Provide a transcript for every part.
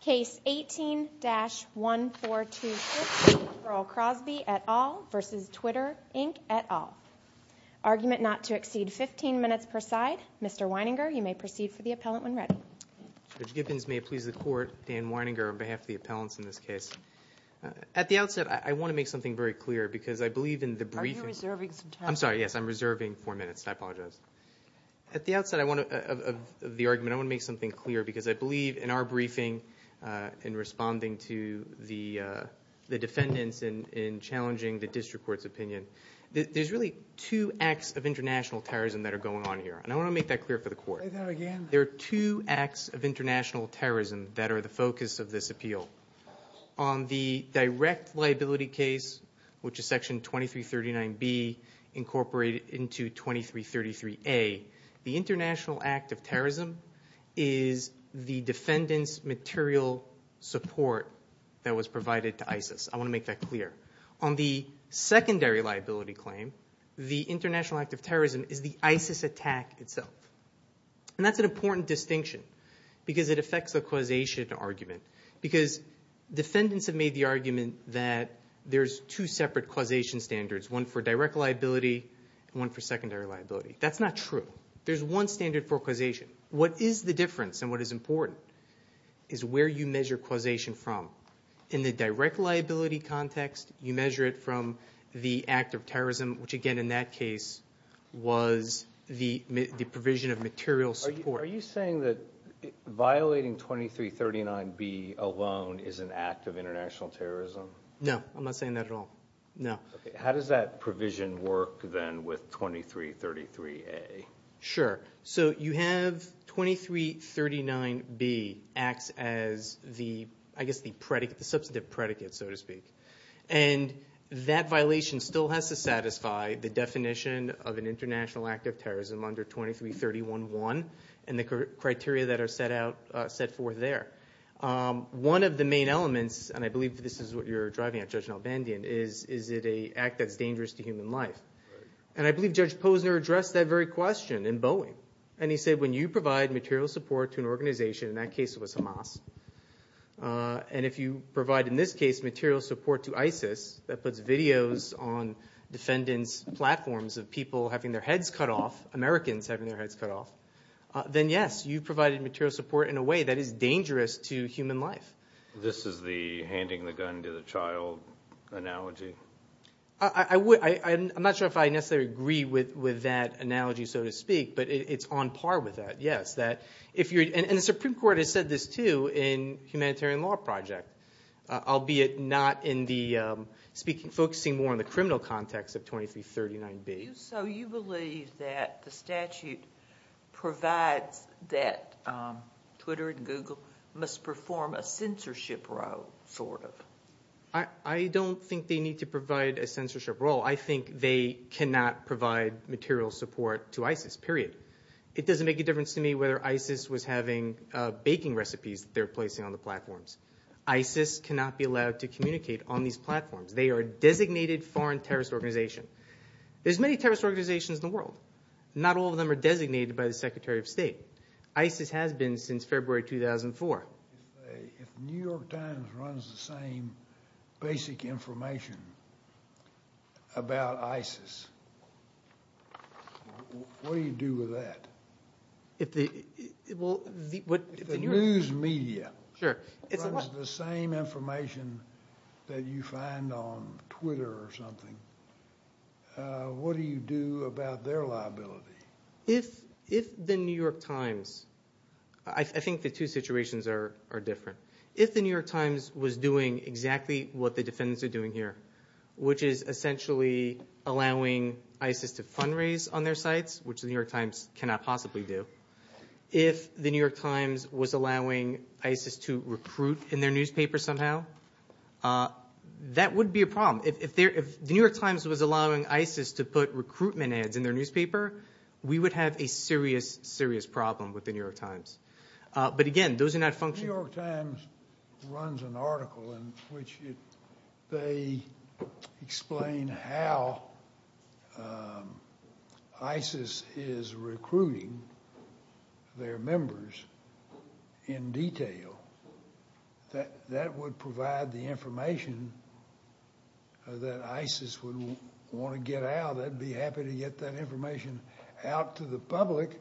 Case 18-1426, Earl Crosby v. Twitter Inc at all. Argument not to exceed 15 minutes per side. Mr. Weininger, you may proceed for the appellant when ready. Judge Gibbons, may it please the Court, Dan Weininger on behalf of the appellants in this case. At the outset, I want to make something very clear because I believe in the briefings. Are you reserving some time? I'm sorry, yes, I'm reserving four minutes. I apologize. At the outset of the argument, I want to make something clear because I believe in our briefing in responding to the defendants in challenging the district court's opinion. There's really two acts of international terrorism that are going on here, and I want to make that clear for the Court. Say that again. There are two acts of international terrorism that are the focus of this appeal. On the direct liability case, which is Section 2339B incorporated into 2333A, the international act of terrorism is the defendants' material support that was provided to ISIS. I want to make that clear. On the secondary liability claim, the international act of terrorism is the ISIS attack itself. And that's an important distinction because it affects the causation argument because defendants have made the argument that there's two separate causation standards, one for direct liability and one for secondary liability. That's not true. There's one standard for causation. What is the difference and what is important is where you measure causation from. In the direct liability context, you measure it from the act of terrorism, which again in that case was the provision of material support. Are you saying that violating 2339B alone is an act of international terrorism? No. I'm not saying that at all. No. How does that provision work then with 2333A? Sure. So you have 2339B acts as the substantive predicate, so to speak. And that violation still has to satisfy the definition of an international act of terrorism under 2331.1 and the criteria that are set forth there. One of the main elements, and I believe this is what you're driving at, Judge Nalbandian, is it an act that's dangerous to human life. And I believe Judge Posner addressed that very question in Boeing. And he said when you provide material support to an organization, in that case it was Hamas, and if you provide in this case material support to ISIS, that puts videos on defendants' platforms of people having their heads cut off, Americans having their heads cut off, then yes, you've provided material support in a way that is dangerous to human life. This is the handing the gun to the child analogy? I'm not sure if I necessarily agree with that analogy, so to speak, but it's on par with that, yes. And the Supreme Court has said this, too, in the Humanitarian Law Project, albeit not in the speaking, focusing more on the criminal context of 2339B. So you believe that the statute provides that Twitter and Google must perform a censorship role, sort of? I don't think they need to provide a censorship role. I think they cannot provide material support to ISIS, period. It doesn't make a difference to me whether ISIS was having baking recipes that they're placing on the platforms. ISIS cannot be allowed to communicate on these platforms. They are a designated foreign terrorist organization. There's many terrorist organizations in the world. Not all of them are designated by the Secretary of State. ISIS has been since February 2004. If the New York Times runs the same basic information about ISIS, what do you do with that? If the news media runs the same information that you find on Twitter or something, what do you do about their liability? If the New York Times, I think the two situations are different. If the New York Times was doing exactly what the defendants are doing here, which is essentially allowing ISIS to fundraise on their sites, which the New York Times cannot possibly do. If the New York Times was allowing ISIS to recruit in their newspaper somehow, that would be a problem. If the New York Times was allowing ISIS to put recruitment ads in their newspaper, we would have a serious, serious problem with the New York Times. But again, those are not function- The New York Times runs an article in which they explain how ISIS is recruiting their members in detail. That would provide the information that ISIS would want to get out. They'd be happy to get that information out to the public,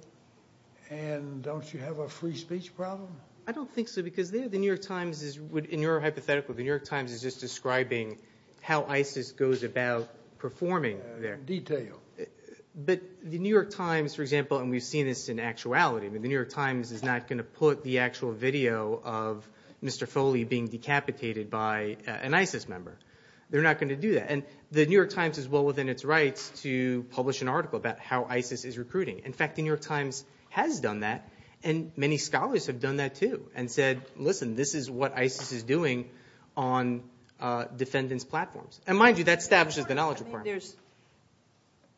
and don't you have a free speech problem? I don't think so, because the New York Times, in your hypothetical, the New York Times is just describing how ISIS goes about performing there. Detail. But the New York Times, for example, and we've seen this in actuality, but the New York Times is not going to put the actual video of Mr. Foley being decapitated by an ISIS member. They're not going to do that. The New York Times is well within its rights to publish an article about how ISIS is recruiting. In fact, the New York Times has done that, and many scholars have done that too, and said, listen, this is what ISIS is doing on defendants' platforms. Mind you, that establishes the knowledge requirement.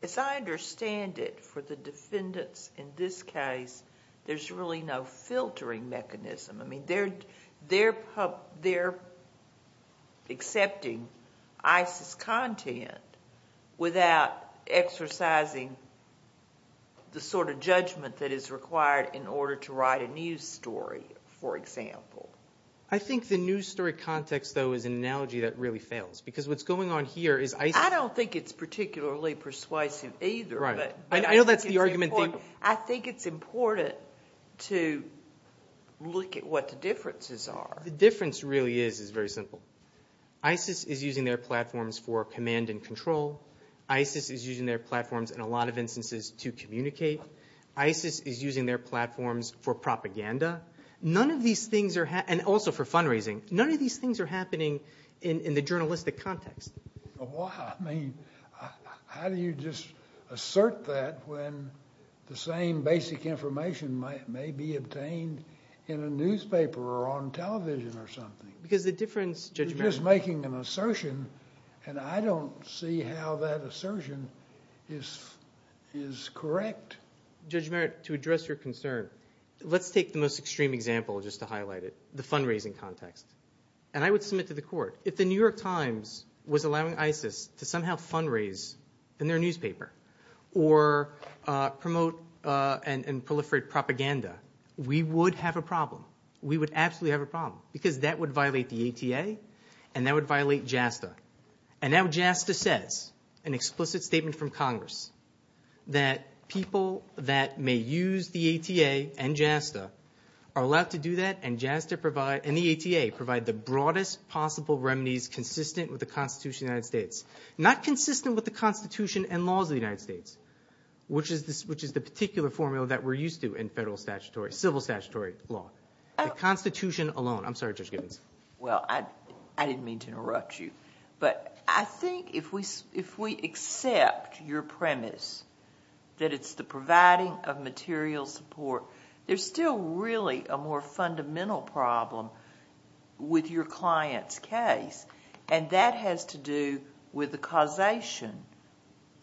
As I understand it, for the defendants in this case, there's really no filtering mechanism. I mean, they're accepting ISIS content without exercising the sort of judgment that is required in order to write a news story, for example. I think the news story context, though, is an analogy that really fails, because what's particularly persuasive either. Right. I know that's the argument. I think it's important to look at what the differences are. The difference really is very simple. ISIS is using their platforms for command and control. ISIS is using their platforms in a lot of instances to communicate. ISIS is using their platforms for propaganda. And also for fundraising. None of these things are happening in the journalistic context. Why? I mean, how do you just assert that when the same basic information may be obtained in a newspaper or on television or something? Because the difference, Judge Merritt. You're just making an assertion, and I don't see how that assertion is correct. Judge Merritt, to address your concern, let's take the most extreme example just to highlight And I would submit to the court. If the New York Times was allowing ISIS to somehow fundraise in their newspaper or promote and proliferate propaganda, we would have a problem. We would absolutely have a problem, because that would violate the ATA, and that would violate JASTA. And now JASTA says, an explicit statement from Congress, that people that may use the with the Constitution of the United States. Not consistent with the Constitution and laws of the United States, which is the particular formula that we're used to in federal statutory, civil statutory law. The Constitution alone. I'm sorry, Judge Gibbons. Well, I didn't mean to interrupt you. But I think if we accept your premise that it's the providing of material support, there's still really a more fundamental problem with your client's case. And that has to do with the causation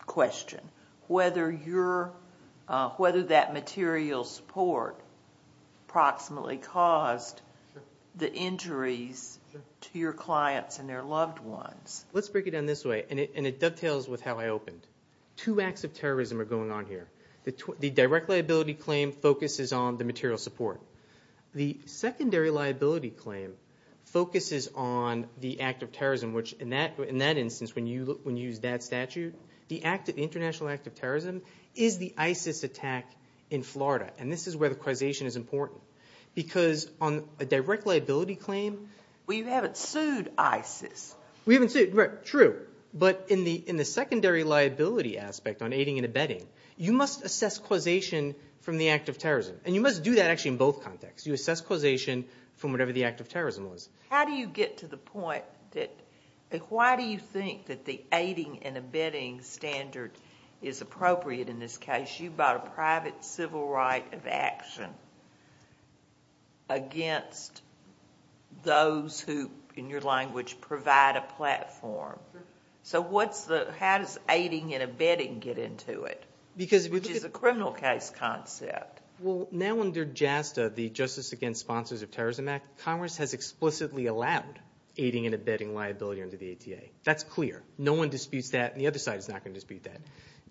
question, whether that material support approximately caused the injuries to your clients and their loved ones. Let's break it down this way, and it dovetails with how I opened. Two acts of terrorism are going on here. The direct liability claim focuses on the material support. The secondary liability claim focuses on the act of terrorism, which in that instance, when you use that statute, the international act of terrorism is the ISIS attack in Florida. And this is where the causation is important. Because on a direct liability claim, we haven't sued ISIS. We haven't sued. True. But in the secondary liability aspect on aiding and abetting, you must assess causation from the act of terrorism. And you must do that actually in both contexts. You assess causation from whatever the act of terrorism was. How do you get to the point that why do you think that the aiding and abetting standard is appropriate in this case? You bought a private civil right of action against those who, in your language, provide a platform. So how does aiding and abetting get into it, which is a criminal case concept? Well, now under JASTA, the Justice Against Sponsors of Terrorism Act, Congress has explicitly allowed aiding and abetting liability under the ATA. That's clear. No one disputes that, and the other side is not going to dispute that.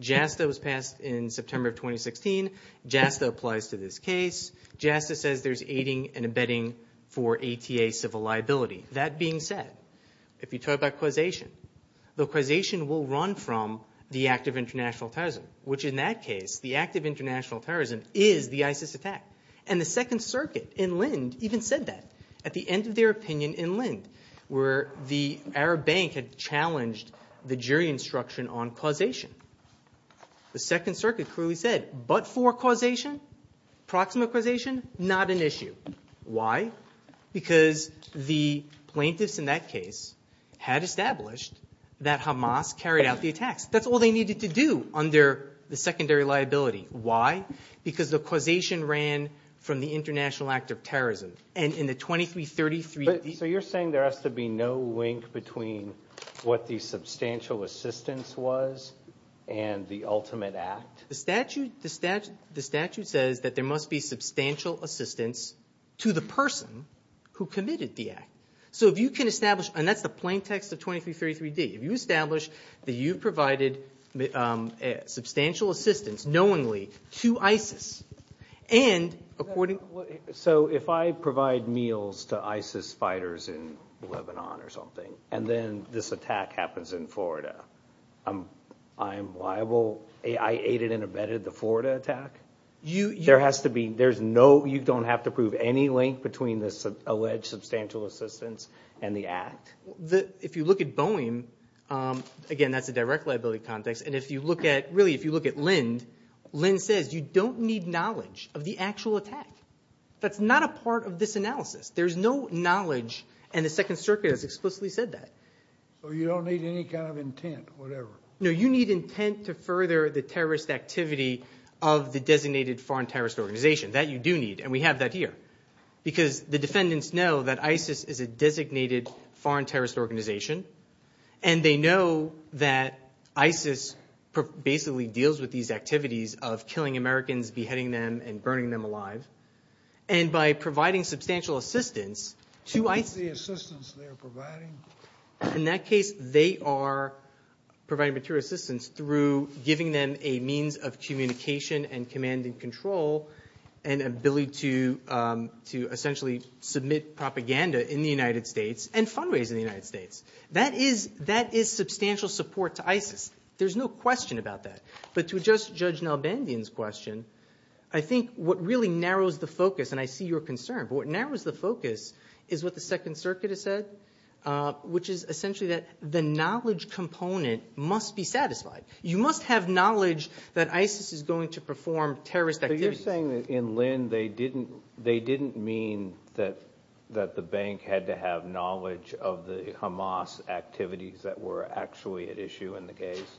JASTA was passed in September of 2016. JASTA applies to this case. JASTA says there's aiding and abetting for ATA civil liability. That being said, if you talk about causation, the causation will run from the act of international terrorism, which in that case, the act of international terrorism is the ISIS attack. And the Second Circuit in Lind even said that at the end of their opinion in Lind, where the Arab Bank had challenged the jury instruction on causation. The Second Circuit clearly said, but for causation, proximal causation, not an issue. Why? Because the plaintiffs in that case had established that Hamas carried out the attacks. That's all they needed to do under the secondary liability. Why? Because the causation ran from the international act of terrorism. And in the 2333... So you're saying there has to be no link between what the substantial assistance was and the ultimate act? The statute says that there must be substantial assistance to the person who committed the act. So if you can establish, and that's the plain text of 2333D, if you establish that you provided substantial assistance knowingly to ISIS, and according... So if I provide meals to ISIS fighters in Lebanon or something, and then this attack happens in Florida, I'm liable, I aided and abetted the Florida attack? There has to be, you don't have to prove any link between this alleged substantial assistance and the act? If you look at Boeing, again that's a direct liability context, and if you look at Lind, Lind says you don't need knowledge of the actual attack. That's not a part of this analysis. There's no knowledge, and the Second Circuit has explicitly said that. So you don't need any kind of intent, whatever? No, you need intent to further the terrorist activity of the designated foreign terrorist organization. That you do need, and we have that here. Because the defendants know that ISIS is a designated foreign terrorist organization, and they know that ISIS basically deals with these activities of killing Americans, beheading them, and burning them alive. And by providing substantial assistance to ISIS... In that case, they are providing material assistance through giving them a means of communication and command and control and ability to essentially submit propaganda in the United States and fund-raise in the United States. That is substantial support to ISIS. There's no question about that. But to adjust Judge Nalbandian's question, I think what really narrows the focus, and I see your concern, but what narrows the focus is what the Second Circuit has said, which is essentially that the knowledge component must be satisfied. You must have knowledge that ISIS is going to perform terrorist activities. But you're saying that in Lind they didn't mean that the bank had to have knowledge of the Hamas activities that were actually at issue in the case?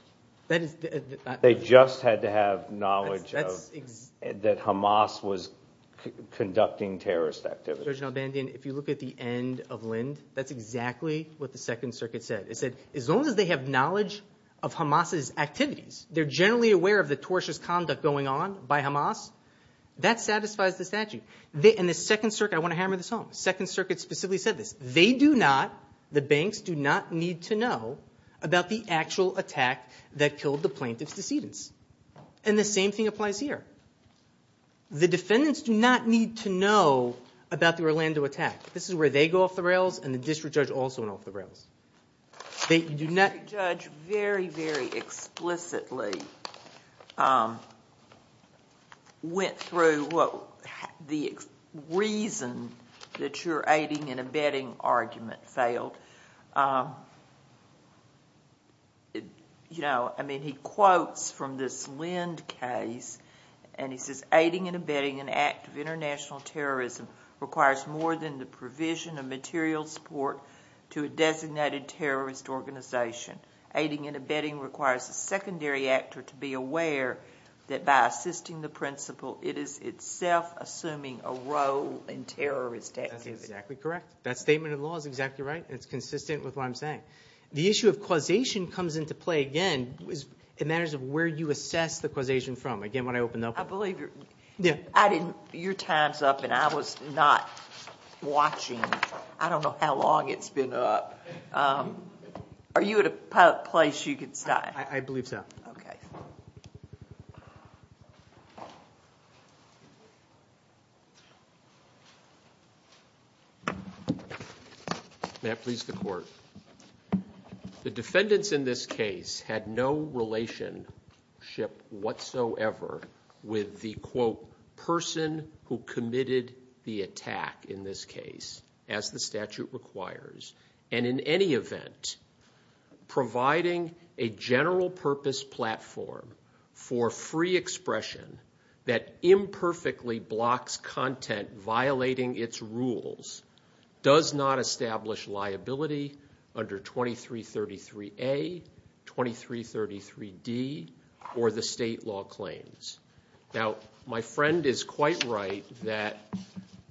They just had to have knowledge that Hamas was conducting terrorist activities. Judge Nalbandian, if you look at the end of Lind, that's exactly what the Second Circuit said. It said as long as they have knowledge of Hamas's activities, they're generally aware of the tortious conduct going on by Hamas. That satisfies the statute. And the Second Circuit, I want to hammer this home, the Second Circuit specifically said this. They do not, the banks do not need to know about the actual attack that killed the plaintiff's decedents. And the same thing applies here. The defendants do not need to know about the Orlando attack. This is where they go off the rails and the district judge also went off the rails. The district judge very, very explicitly went through the reason that your aiding and abetting argument failed. He quotes from this Lind case and he says, aiding and abetting an act of international terrorism requires more than the provision of material support to a designated terrorist organization. Aiding and abetting requires a secondary actor to be aware that by assisting the principal, it is itself assuming a role in terrorist activity. That's exactly correct. That statement of the law is exactly right. It's consistent with what I'm saying. The issue of causation comes into play again in matters of where you assess the causation from. Again, what I opened up with. I believe your time's up and I was not watching. I don't know how long it's been up. Are you at a place you could stop? I believe so. Okay. May it please the court. The defendants in this case had no relationship whatsoever with the, quote, person who committed the attack in this case, as the statute requires. And in any event, providing a general purpose platform for free expression that imperfectly blocks content violating its rules does not establish liability under 2333A, 2333D, or the state law claims. Now, my friend is quite right that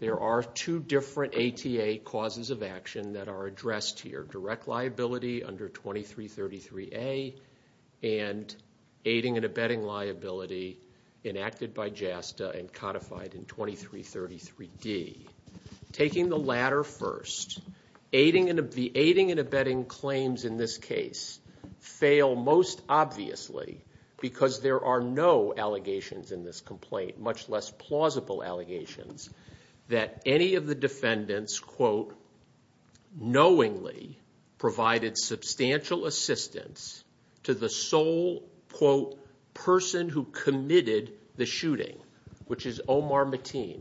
there are two different ATA causes of action that are addressed here, under 2333A and aiding and abetting liability enacted by JASTA and codified in 2333D. Taking the latter first, the aiding and abetting claims in this case fail most obviously because there are no allegations in this complaint, much less plausible allegations, that any of the defendants, quote, knowingly provided substantial assistance to the sole, quote, person who committed the shooting, which is Omar Mateen.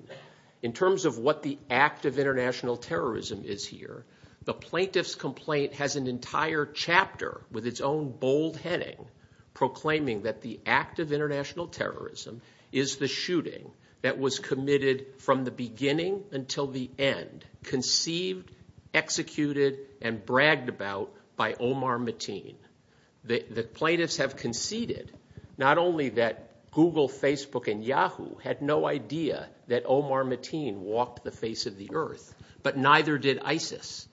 In terms of what the act of international terrorism is here, the plaintiff's complaint has an entire chapter with its own bold heading proclaiming that the act of international terrorism is the shooting that was committed from the beginning until the end, conceived, executed, and bragged about by Omar Mateen. The plaintiffs have conceded not only that Google, Facebook, and Yahoo had no idea that Omar Mateen walked the face of the earth, but neither did ISIS.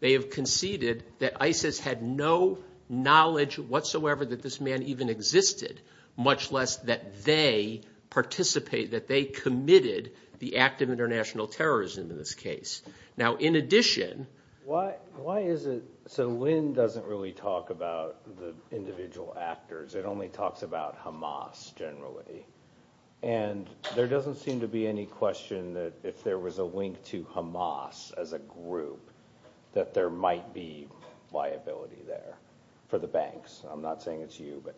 They have conceded that ISIS had no knowledge whatsoever that this man even existed, much less that they participate, that they committed the act of international terrorism in this case. Now, in addition, why is it so Lynn doesn't really talk about the individual actors. It only talks about Hamas generally. And there doesn't seem to be any question that if there was a link to Hamas as a group, that there might be liability there for the banks. I'm not saying it's you, but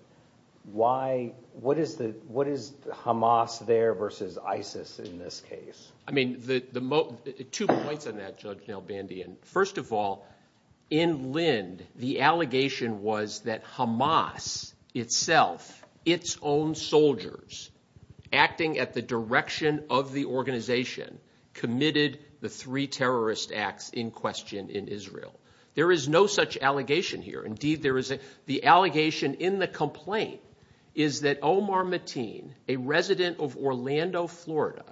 what is Hamas there versus ISIS in this case? I mean, two points on that, Judge Nel Bandian. First of all, in Lynn, the allegation was that Hamas itself, its own soldiers, acting at the direction of the organization, committed the three terrorist acts in question in Israel. There is no such allegation here. Indeed, the allegation in the complaint is that Omar Mateen, a resident of Orlando, Florida,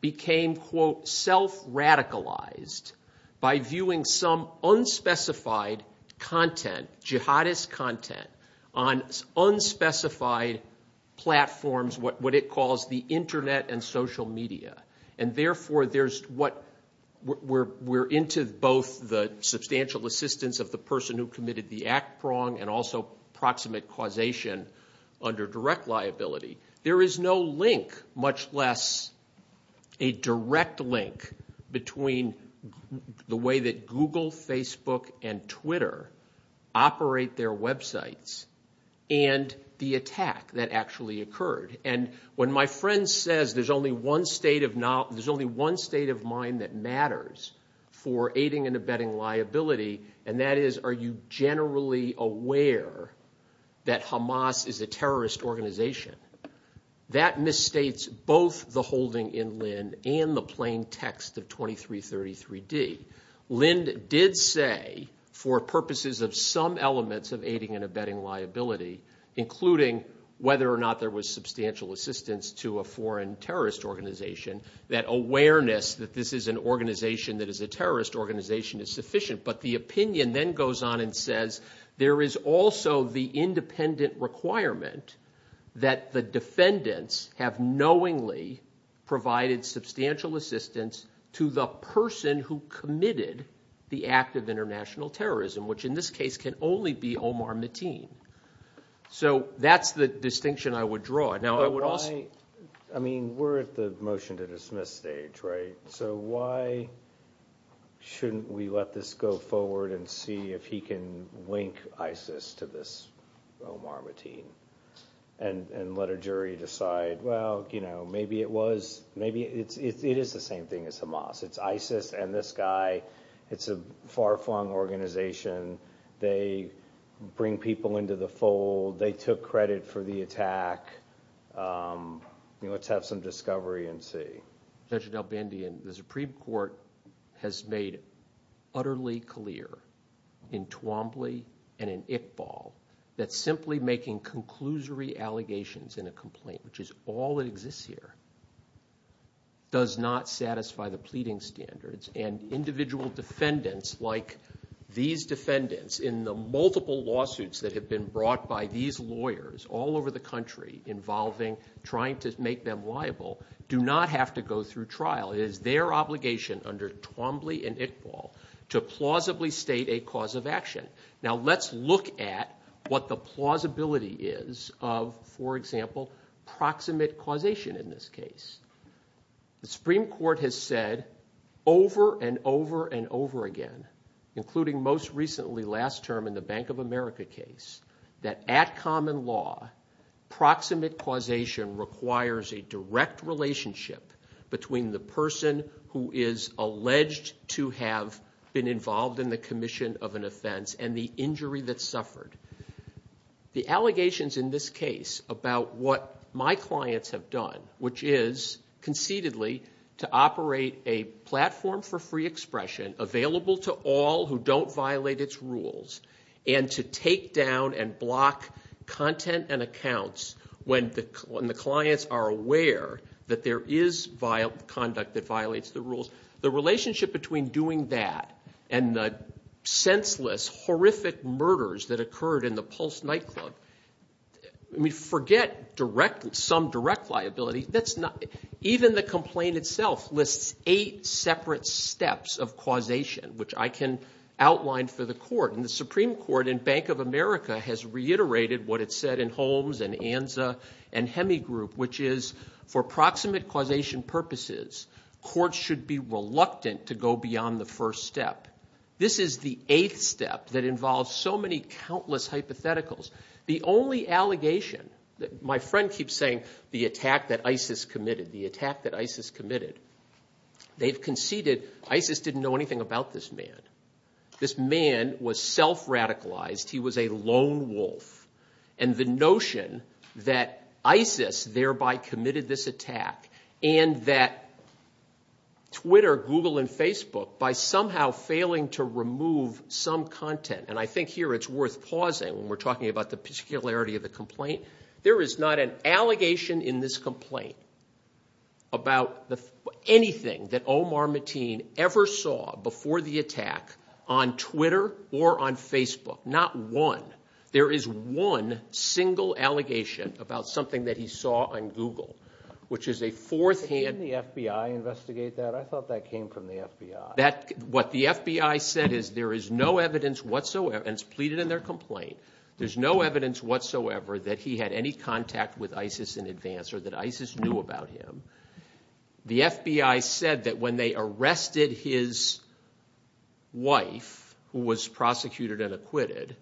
became, quote, self-radicalized by viewing some unspecified content, jihadist content, on unspecified platforms, what it calls the Internet and social media. And therefore, there's what we're into both the substantial assistance of the person who committed the act wrong and also proximate causation under direct liability. There is no link, much less a direct link, between the way that Google, Facebook, and Twitter operate their websites and the attack that actually occurred. And when my friend says there's only one state of mind that matters for aiding and abetting liability, and that is are you generally aware that Hamas is a terrorist organization, that misstates both the holding in Lynn and the plain text of 2333D. Lynn did say, for purposes of some elements of aiding and abetting liability, including whether or not there was substantial assistance to a foreign terrorist organization, that awareness that this is an organization that is a terrorist organization is sufficient, but the opinion then goes on and says there is also the independent requirement that the defendants have knowingly provided substantial assistance to the person who committed the act of international terrorism, which in this case can only be Omar Mateen. So that's the distinction I would draw. I mean, we're at the motion to dismiss stage, right? So why shouldn't we let this go forward and see if he can link ISIS to this Omar Mateen and let a jury decide, well, you know, maybe it was, maybe it is the same thing as Hamas. It's ISIS and this guy. It's a far-flung organization. They bring people into the fold. They took credit for the attack. Let's have some discovery and see. Judge Delbandia, the Supreme Court has made utterly clear in Twombly and in Iqbal that simply making conclusory allegations in a complaint, which is all that exists here, does not satisfy the pleading standards. And individual defendants like these defendants in the multiple lawsuits that have been brought by these lawyers all over the country involving trying to make them liable do not have to go through trial. It is their obligation under Twombly and Iqbal to plausibly state a cause of action. Now let's look at what the plausibility is of, for example, proximate causation in this case. The Supreme Court has said over and over and over again, including most recently last term in the Bank of America case, that at common law proximate causation requires a direct relationship between the person who is alleged to have been involved in the commission of an offense and the injury that suffered. The allegations in this case about what my clients have done, which is conceitedly to operate a platform for free expression available to all who don't violate its rules and to take down and block content and accounts when the clients are aware that there is conduct that violates the rules. The relationship between doing that and the senseless, horrific murders that occurred in the Pulse nightclub, forget some direct liability. Even the complaint itself lists eight separate steps of causation, which I can outline for the court. The Supreme Court in Bank of America has reiterated what it said in Holmes and Anza and Hemigroup, which is for proximate causation purposes, courts should be reluctant to go beyond the first step. This is the eighth step that involves so many countless hypotheticals. The only allegation that my friend keeps saying, the attack that ISIS committed, the attack that ISIS committed, they've conceited ISIS didn't know anything about this man. This man was self-radicalized. He was a lone wolf. And the notion that ISIS thereby committed this attack and that Twitter, Google, and Facebook, by somehow failing to remove some content, and I think here it's worth pausing when we're talking about the particularity of the complaint. There is not an allegation in this complaint about anything that Omar Mateen ever saw before the attack on Twitter or on Facebook, not one. There is one single allegation about something that he saw on Google, which is a fourth hand. Didn't the FBI investigate that? I thought that came from the FBI. What the FBI said is there is no evidence whatsoever, and it's pleaded in their complaint, there's no evidence whatsoever that he had any contact with ISIS in advance or that ISIS knew about him. The FBI said that when they arrested his wife, who was prosecuted and acquitted,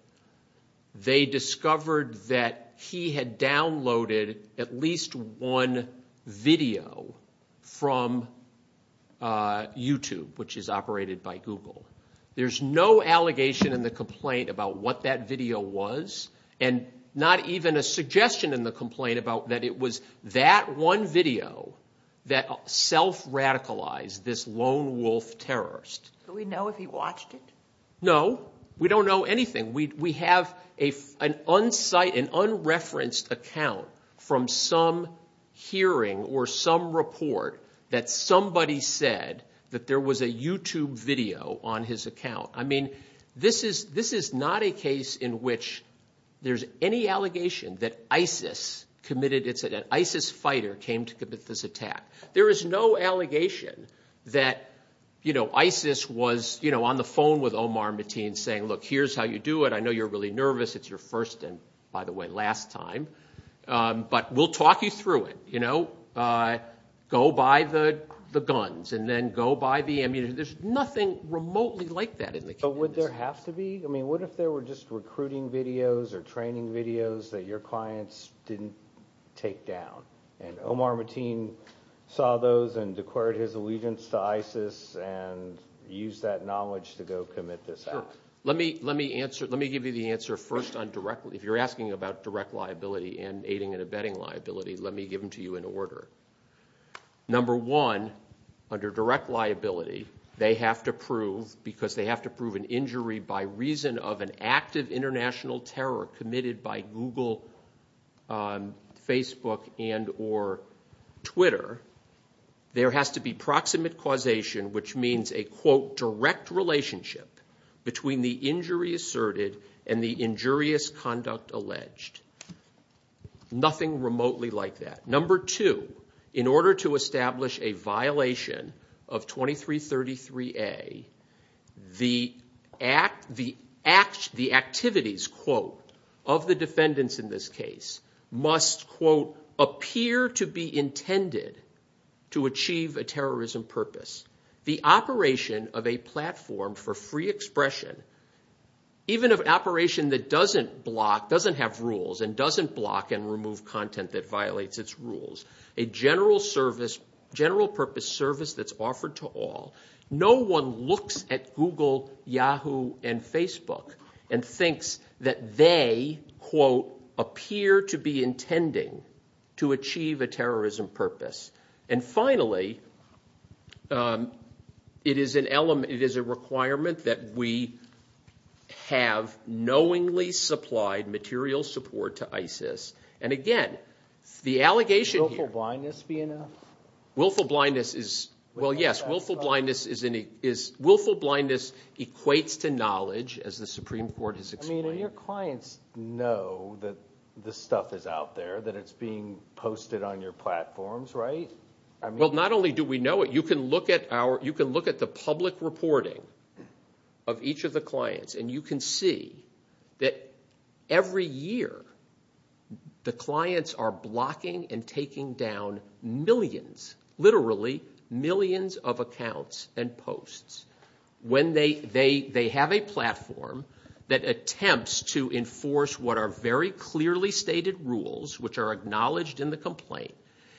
they discovered that he had downloaded at least one video from YouTube, which is operated by Google. There's no allegation in the complaint about what that video was and not even a suggestion in the complaint about that it was that one video that self-radicalized this lone wolf terrorist. Do we know if he watched it? No. We don't know anything. We have an unreferenced account from some hearing or some report that somebody said that there was a YouTube video on his account. I mean, this is not a case in which there's any allegation that ISIS committed it, There is no allegation that ISIS was on the phone with Omar Mateen saying, Look, here's how you do it. I know you're really nervous. It's your first and, by the way, last time, but we'll talk you through it. Go buy the guns and then go buy the ammunition. There's nothing remotely like that in the case. But would there have to be? I mean, what if there were just recruiting videos or training videos that your clients didn't take down? And Omar Mateen saw those and declared his allegiance to ISIS and used that knowledge to go commit this act. Let me give you the answer first. If you're asking about direct liability and aiding and abetting liability, let me give them to you in order. Number one, under direct liability, they have to prove, because they have to prove an injury by reason of an active international terror committed by Google, Facebook, and or Twitter, there has to be proximate causation, which means a, quote, direct relationship between the injury asserted and the injurious conduct alleged. Nothing remotely like that. Number two, in order to establish a violation of 2333A, the activities, quote, of the defendants in this case must, quote, appear to be intended to achieve a terrorism purpose. The operation of a platform for free expression, even an operation that doesn't block, doesn't have rules, and doesn't block and remove content that violates its rules, a general service, general purpose service that's offered to all, no one looks at Google, Yahoo, and Facebook, and thinks that they, quote, appear to be intending to achieve a terrorism purpose. And finally, it is an element, it is a requirement that we have knowingly supplied material support to ISIS. And again, the allegation here. Willful blindness be enough? Willful blindness is, well, yes, willful blindness equates to knowledge, as the Supreme Court has explained. I mean, and your clients know that this stuff is out there, that it's being posted on your platforms, right? Well, not only do we know it, you can look at our, you can look at the public reporting of each of the clients, and you can see that every year the clients are blocking and taking down millions, literally millions of accounts and posts. When they have a platform that attempts to enforce what are very clearly stated rules, which are acknowledged in the complaint,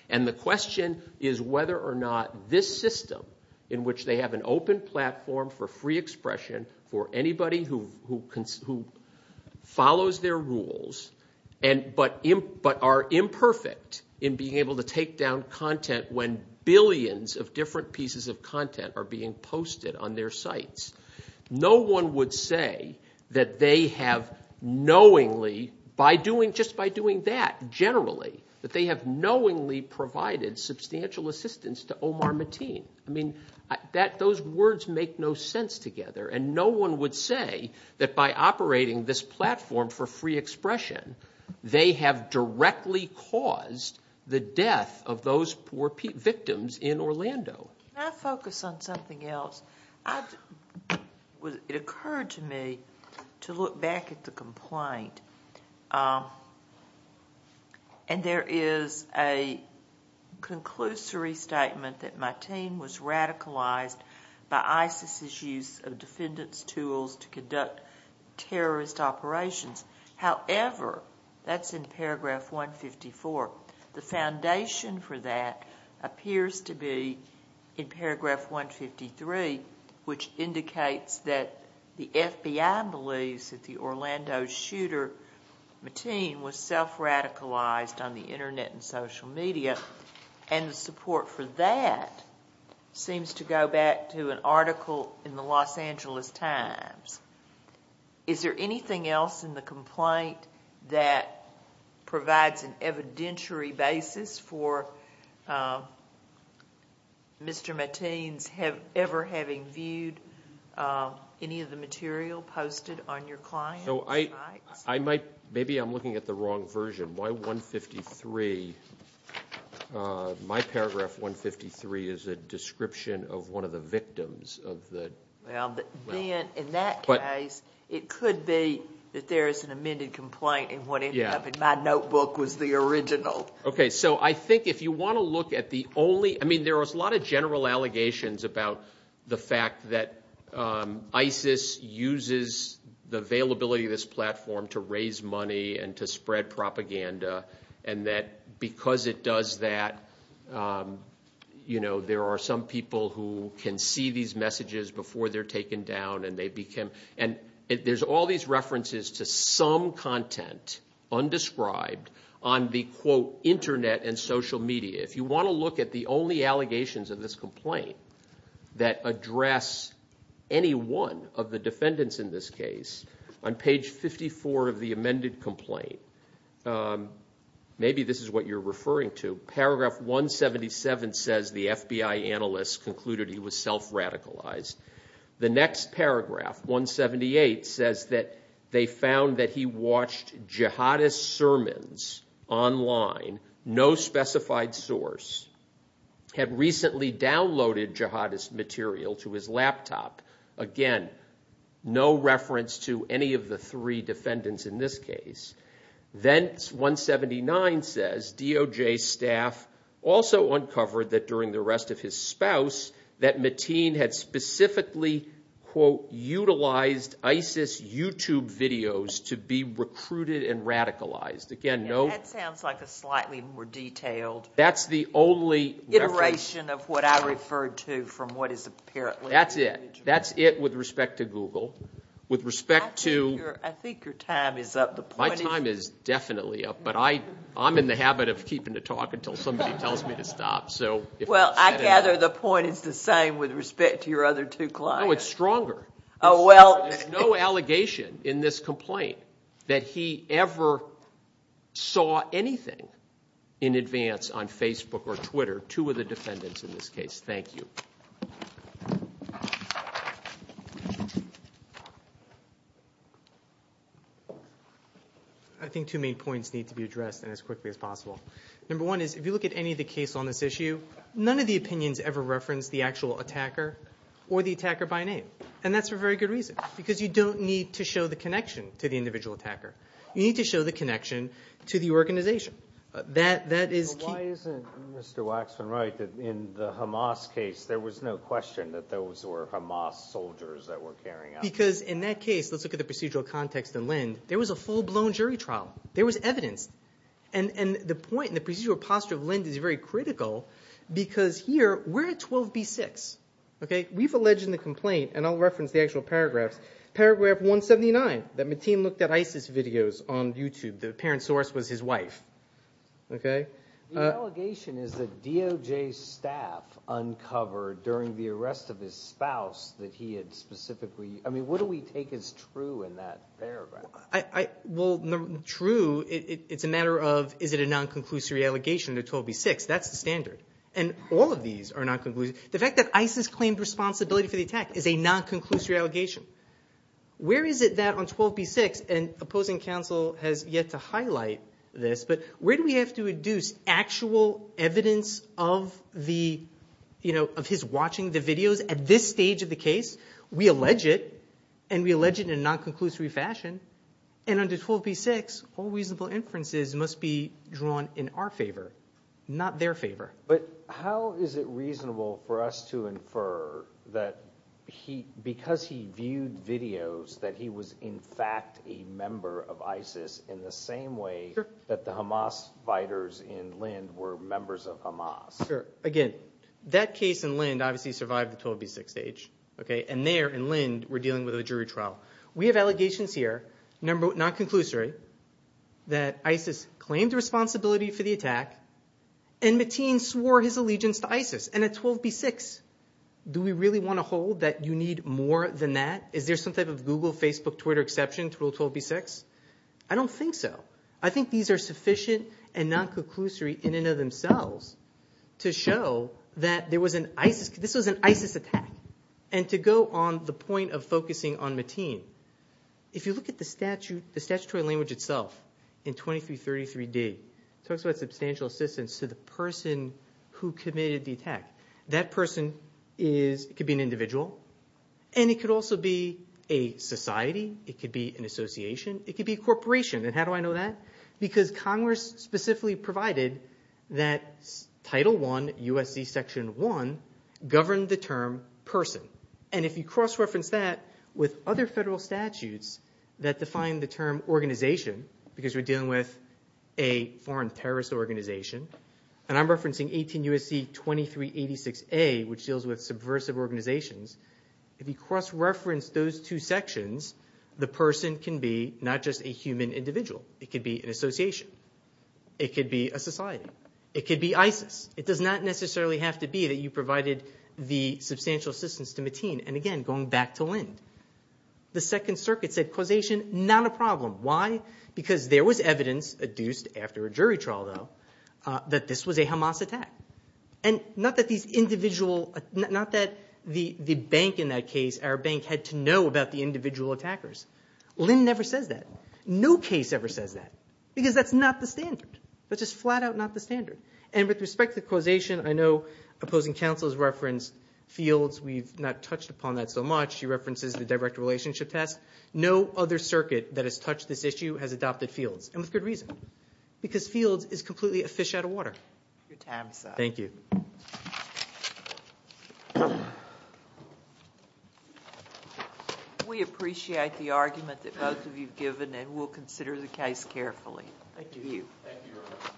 and the question is whether or not this system, in which they have an open platform for free expression for anybody who follows their rules, but are imperfect in being able to take down content when billions of different pieces of content are being posted on their sites, no one would say that they have knowingly, just by doing that generally, that they have knowingly provided substantial assistance to Omar Mateen. I mean, those words make no sense together, and no one would say that by operating this platform for free expression, they have directly caused the death of those poor victims in Orlando. Can I focus on something else? It occurred to me to look back at the complaint, and there is a conclusory statement that Mateen was radicalized by ISIS's use of defendants' tools to conduct terrorist operations. However, that's in paragraph 154. The foundation for that appears to be in paragraph 153, which indicates that the FBI believes that the Orlando shooter Mateen was self-radicalized on the Internet and social media, and the support for that seems to go back to an article in the Los Angeles Times. Is there anything else in the complaint that provides an evidentiary basis for Mr. Mateen ever having viewed any of the material posted on your client's sites? Maybe I'm looking at the wrong version. My paragraph 153 is a description of one of the victims. In that case, it could be that there is an amended complaint and what ended up in my notebook was the original. Okay, so I think if you want to look at the only— I mean, there was a lot of general allegations about the fact that ISIS uses the availability of this platform to raise money and to spread propaganda and that because it does that, you know, there are some people who can see these messages before they're taken down and they become—and there's all these references to some content undescribed on the, quote, Internet and social media. If you want to look at the only allegations in this complaint that address any one of the defendants in this case, on page 54 of the amended complaint, maybe this is what you're referring to. Paragraph 177 says the FBI analysts concluded he was self-radicalized. The next paragraph, 178, says that they found that he watched jihadist sermons online, no specified source, had recently downloaded jihadist material to his laptop. Again, no reference to any of the three defendants in this case. Then 179 says DOJ staff also uncovered that during the arrest of his spouse that Mateen had specifically, quote, utilized ISIS YouTube videos to be recruited and radicalized. Again, no— That sounds like a slightly more detailed— That's the only— Iteration of what I referred to from what is apparently— That's it. That's it with respect to Google. With respect to— I think your time is up. My time is definitely up, but I'm in the habit of keeping the talk until somebody tells me to stop. Well, I gather the point is the same with respect to your other two clients. No, it's stronger. There's no allegation in this complaint that he ever saw anything in advance on Facebook or Twitter, two of the defendants in this case. Thank you. I think two main points need to be addressed as quickly as possible. Number one is if you look at any of the cases on this issue, none of the opinions ever reference the actual attacker or the attacker by name, and that's for very good reason because you don't need to show the connection to the individual attacker. You need to show the connection to the organization. That is— Why isn't Mr. Waxman right that in the Hamas case, there was no question that those were Hamas soldiers that were carrying out— Because in that case, let's look at the procedural context in Lind, there was a full-blown jury trial. There was evidence. The point in the procedural posture of Lind is very critical because here we're at 12B6. We've alleged in the complaint, and I'll reference the actual paragraphs, paragraph 179 that Mateen looked at ISIS videos on YouTube. The apparent source was his wife. The allegation is that DOJ staff uncovered during the arrest of his spouse that he had specifically— I mean, what do we take as true in that paragraph? Well, true, it's a matter of is it a non-conclusory allegation at 12B6? That's the standard. And all of these are non-conclusory. The fact that ISIS claimed responsibility for the attack is a non-conclusory allegation. Where is it that on 12B6, and opposing counsel has yet to highlight this, but where do we have to induce actual evidence of his watching the videos? At this stage of the case, we allege it, and we allege it in a non-conclusory fashion. And under 12B6, all reasonable inferences must be drawn in our favor, not their favor. But how is it reasonable for us to infer that because he viewed videos that he was in fact a member of ISIS in the same way that the Hamas fighters in Lind were members of Hamas? Sure. Again, that case in Lind obviously survived the 12B6 stage. And there in Lind, we're dealing with a jury trial. We have allegations here, non-conclusory, that ISIS claimed responsibility for the attack and Mateen swore his allegiance to ISIS and at 12B6. Do we really want to hold that you need more than that? Is there some type of Google, Facebook, Twitter exception to 12B6? I don't think so. I think these are sufficient and non-conclusory in and of themselves to show that this was an ISIS attack. And to go on the point of focusing on Mateen, if you look at the statutory language itself in 2333D, it talks about substantial assistance to the person who committed the attack. That person could be an individual, and it could also be a society. It could be an association. It could be a corporation. And how do I know that? Because Congress specifically provided that Title I, USC Section 1, governed the term person. And if you cross-reference that with other federal statutes that define the term organization, because we're dealing with a foreign terrorist organization, and I'm referencing 18 USC 2386A, which deals with subversive organizations, if you cross-reference those two sections, the person can be not just a human individual. It could be an association. It could be a society. It could be ISIS. It does not necessarily have to be that you provided the substantial assistance to Mateen. And again, going back to Lind, the Second Circuit said causation, not a problem. Why? Because there was evidence, adduced after a jury trial, though, that this was a Hamas attack. And not that the bank in that case, our bank, had to know about the individual attackers. Lind never says that. No case ever says that because that's not the standard. That's just flat out not the standard. And with respect to causation, I know opposing counsel has referenced fields. We've not touched upon that so much. She references the direct relationship test. No other circuit that has touched this issue has adopted fields, and with good reason, because fields is completely a fish out of water. Thank you. We appreciate the argument that both of you have given, and we'll consider the case carefully. Thank you. Thank you very much.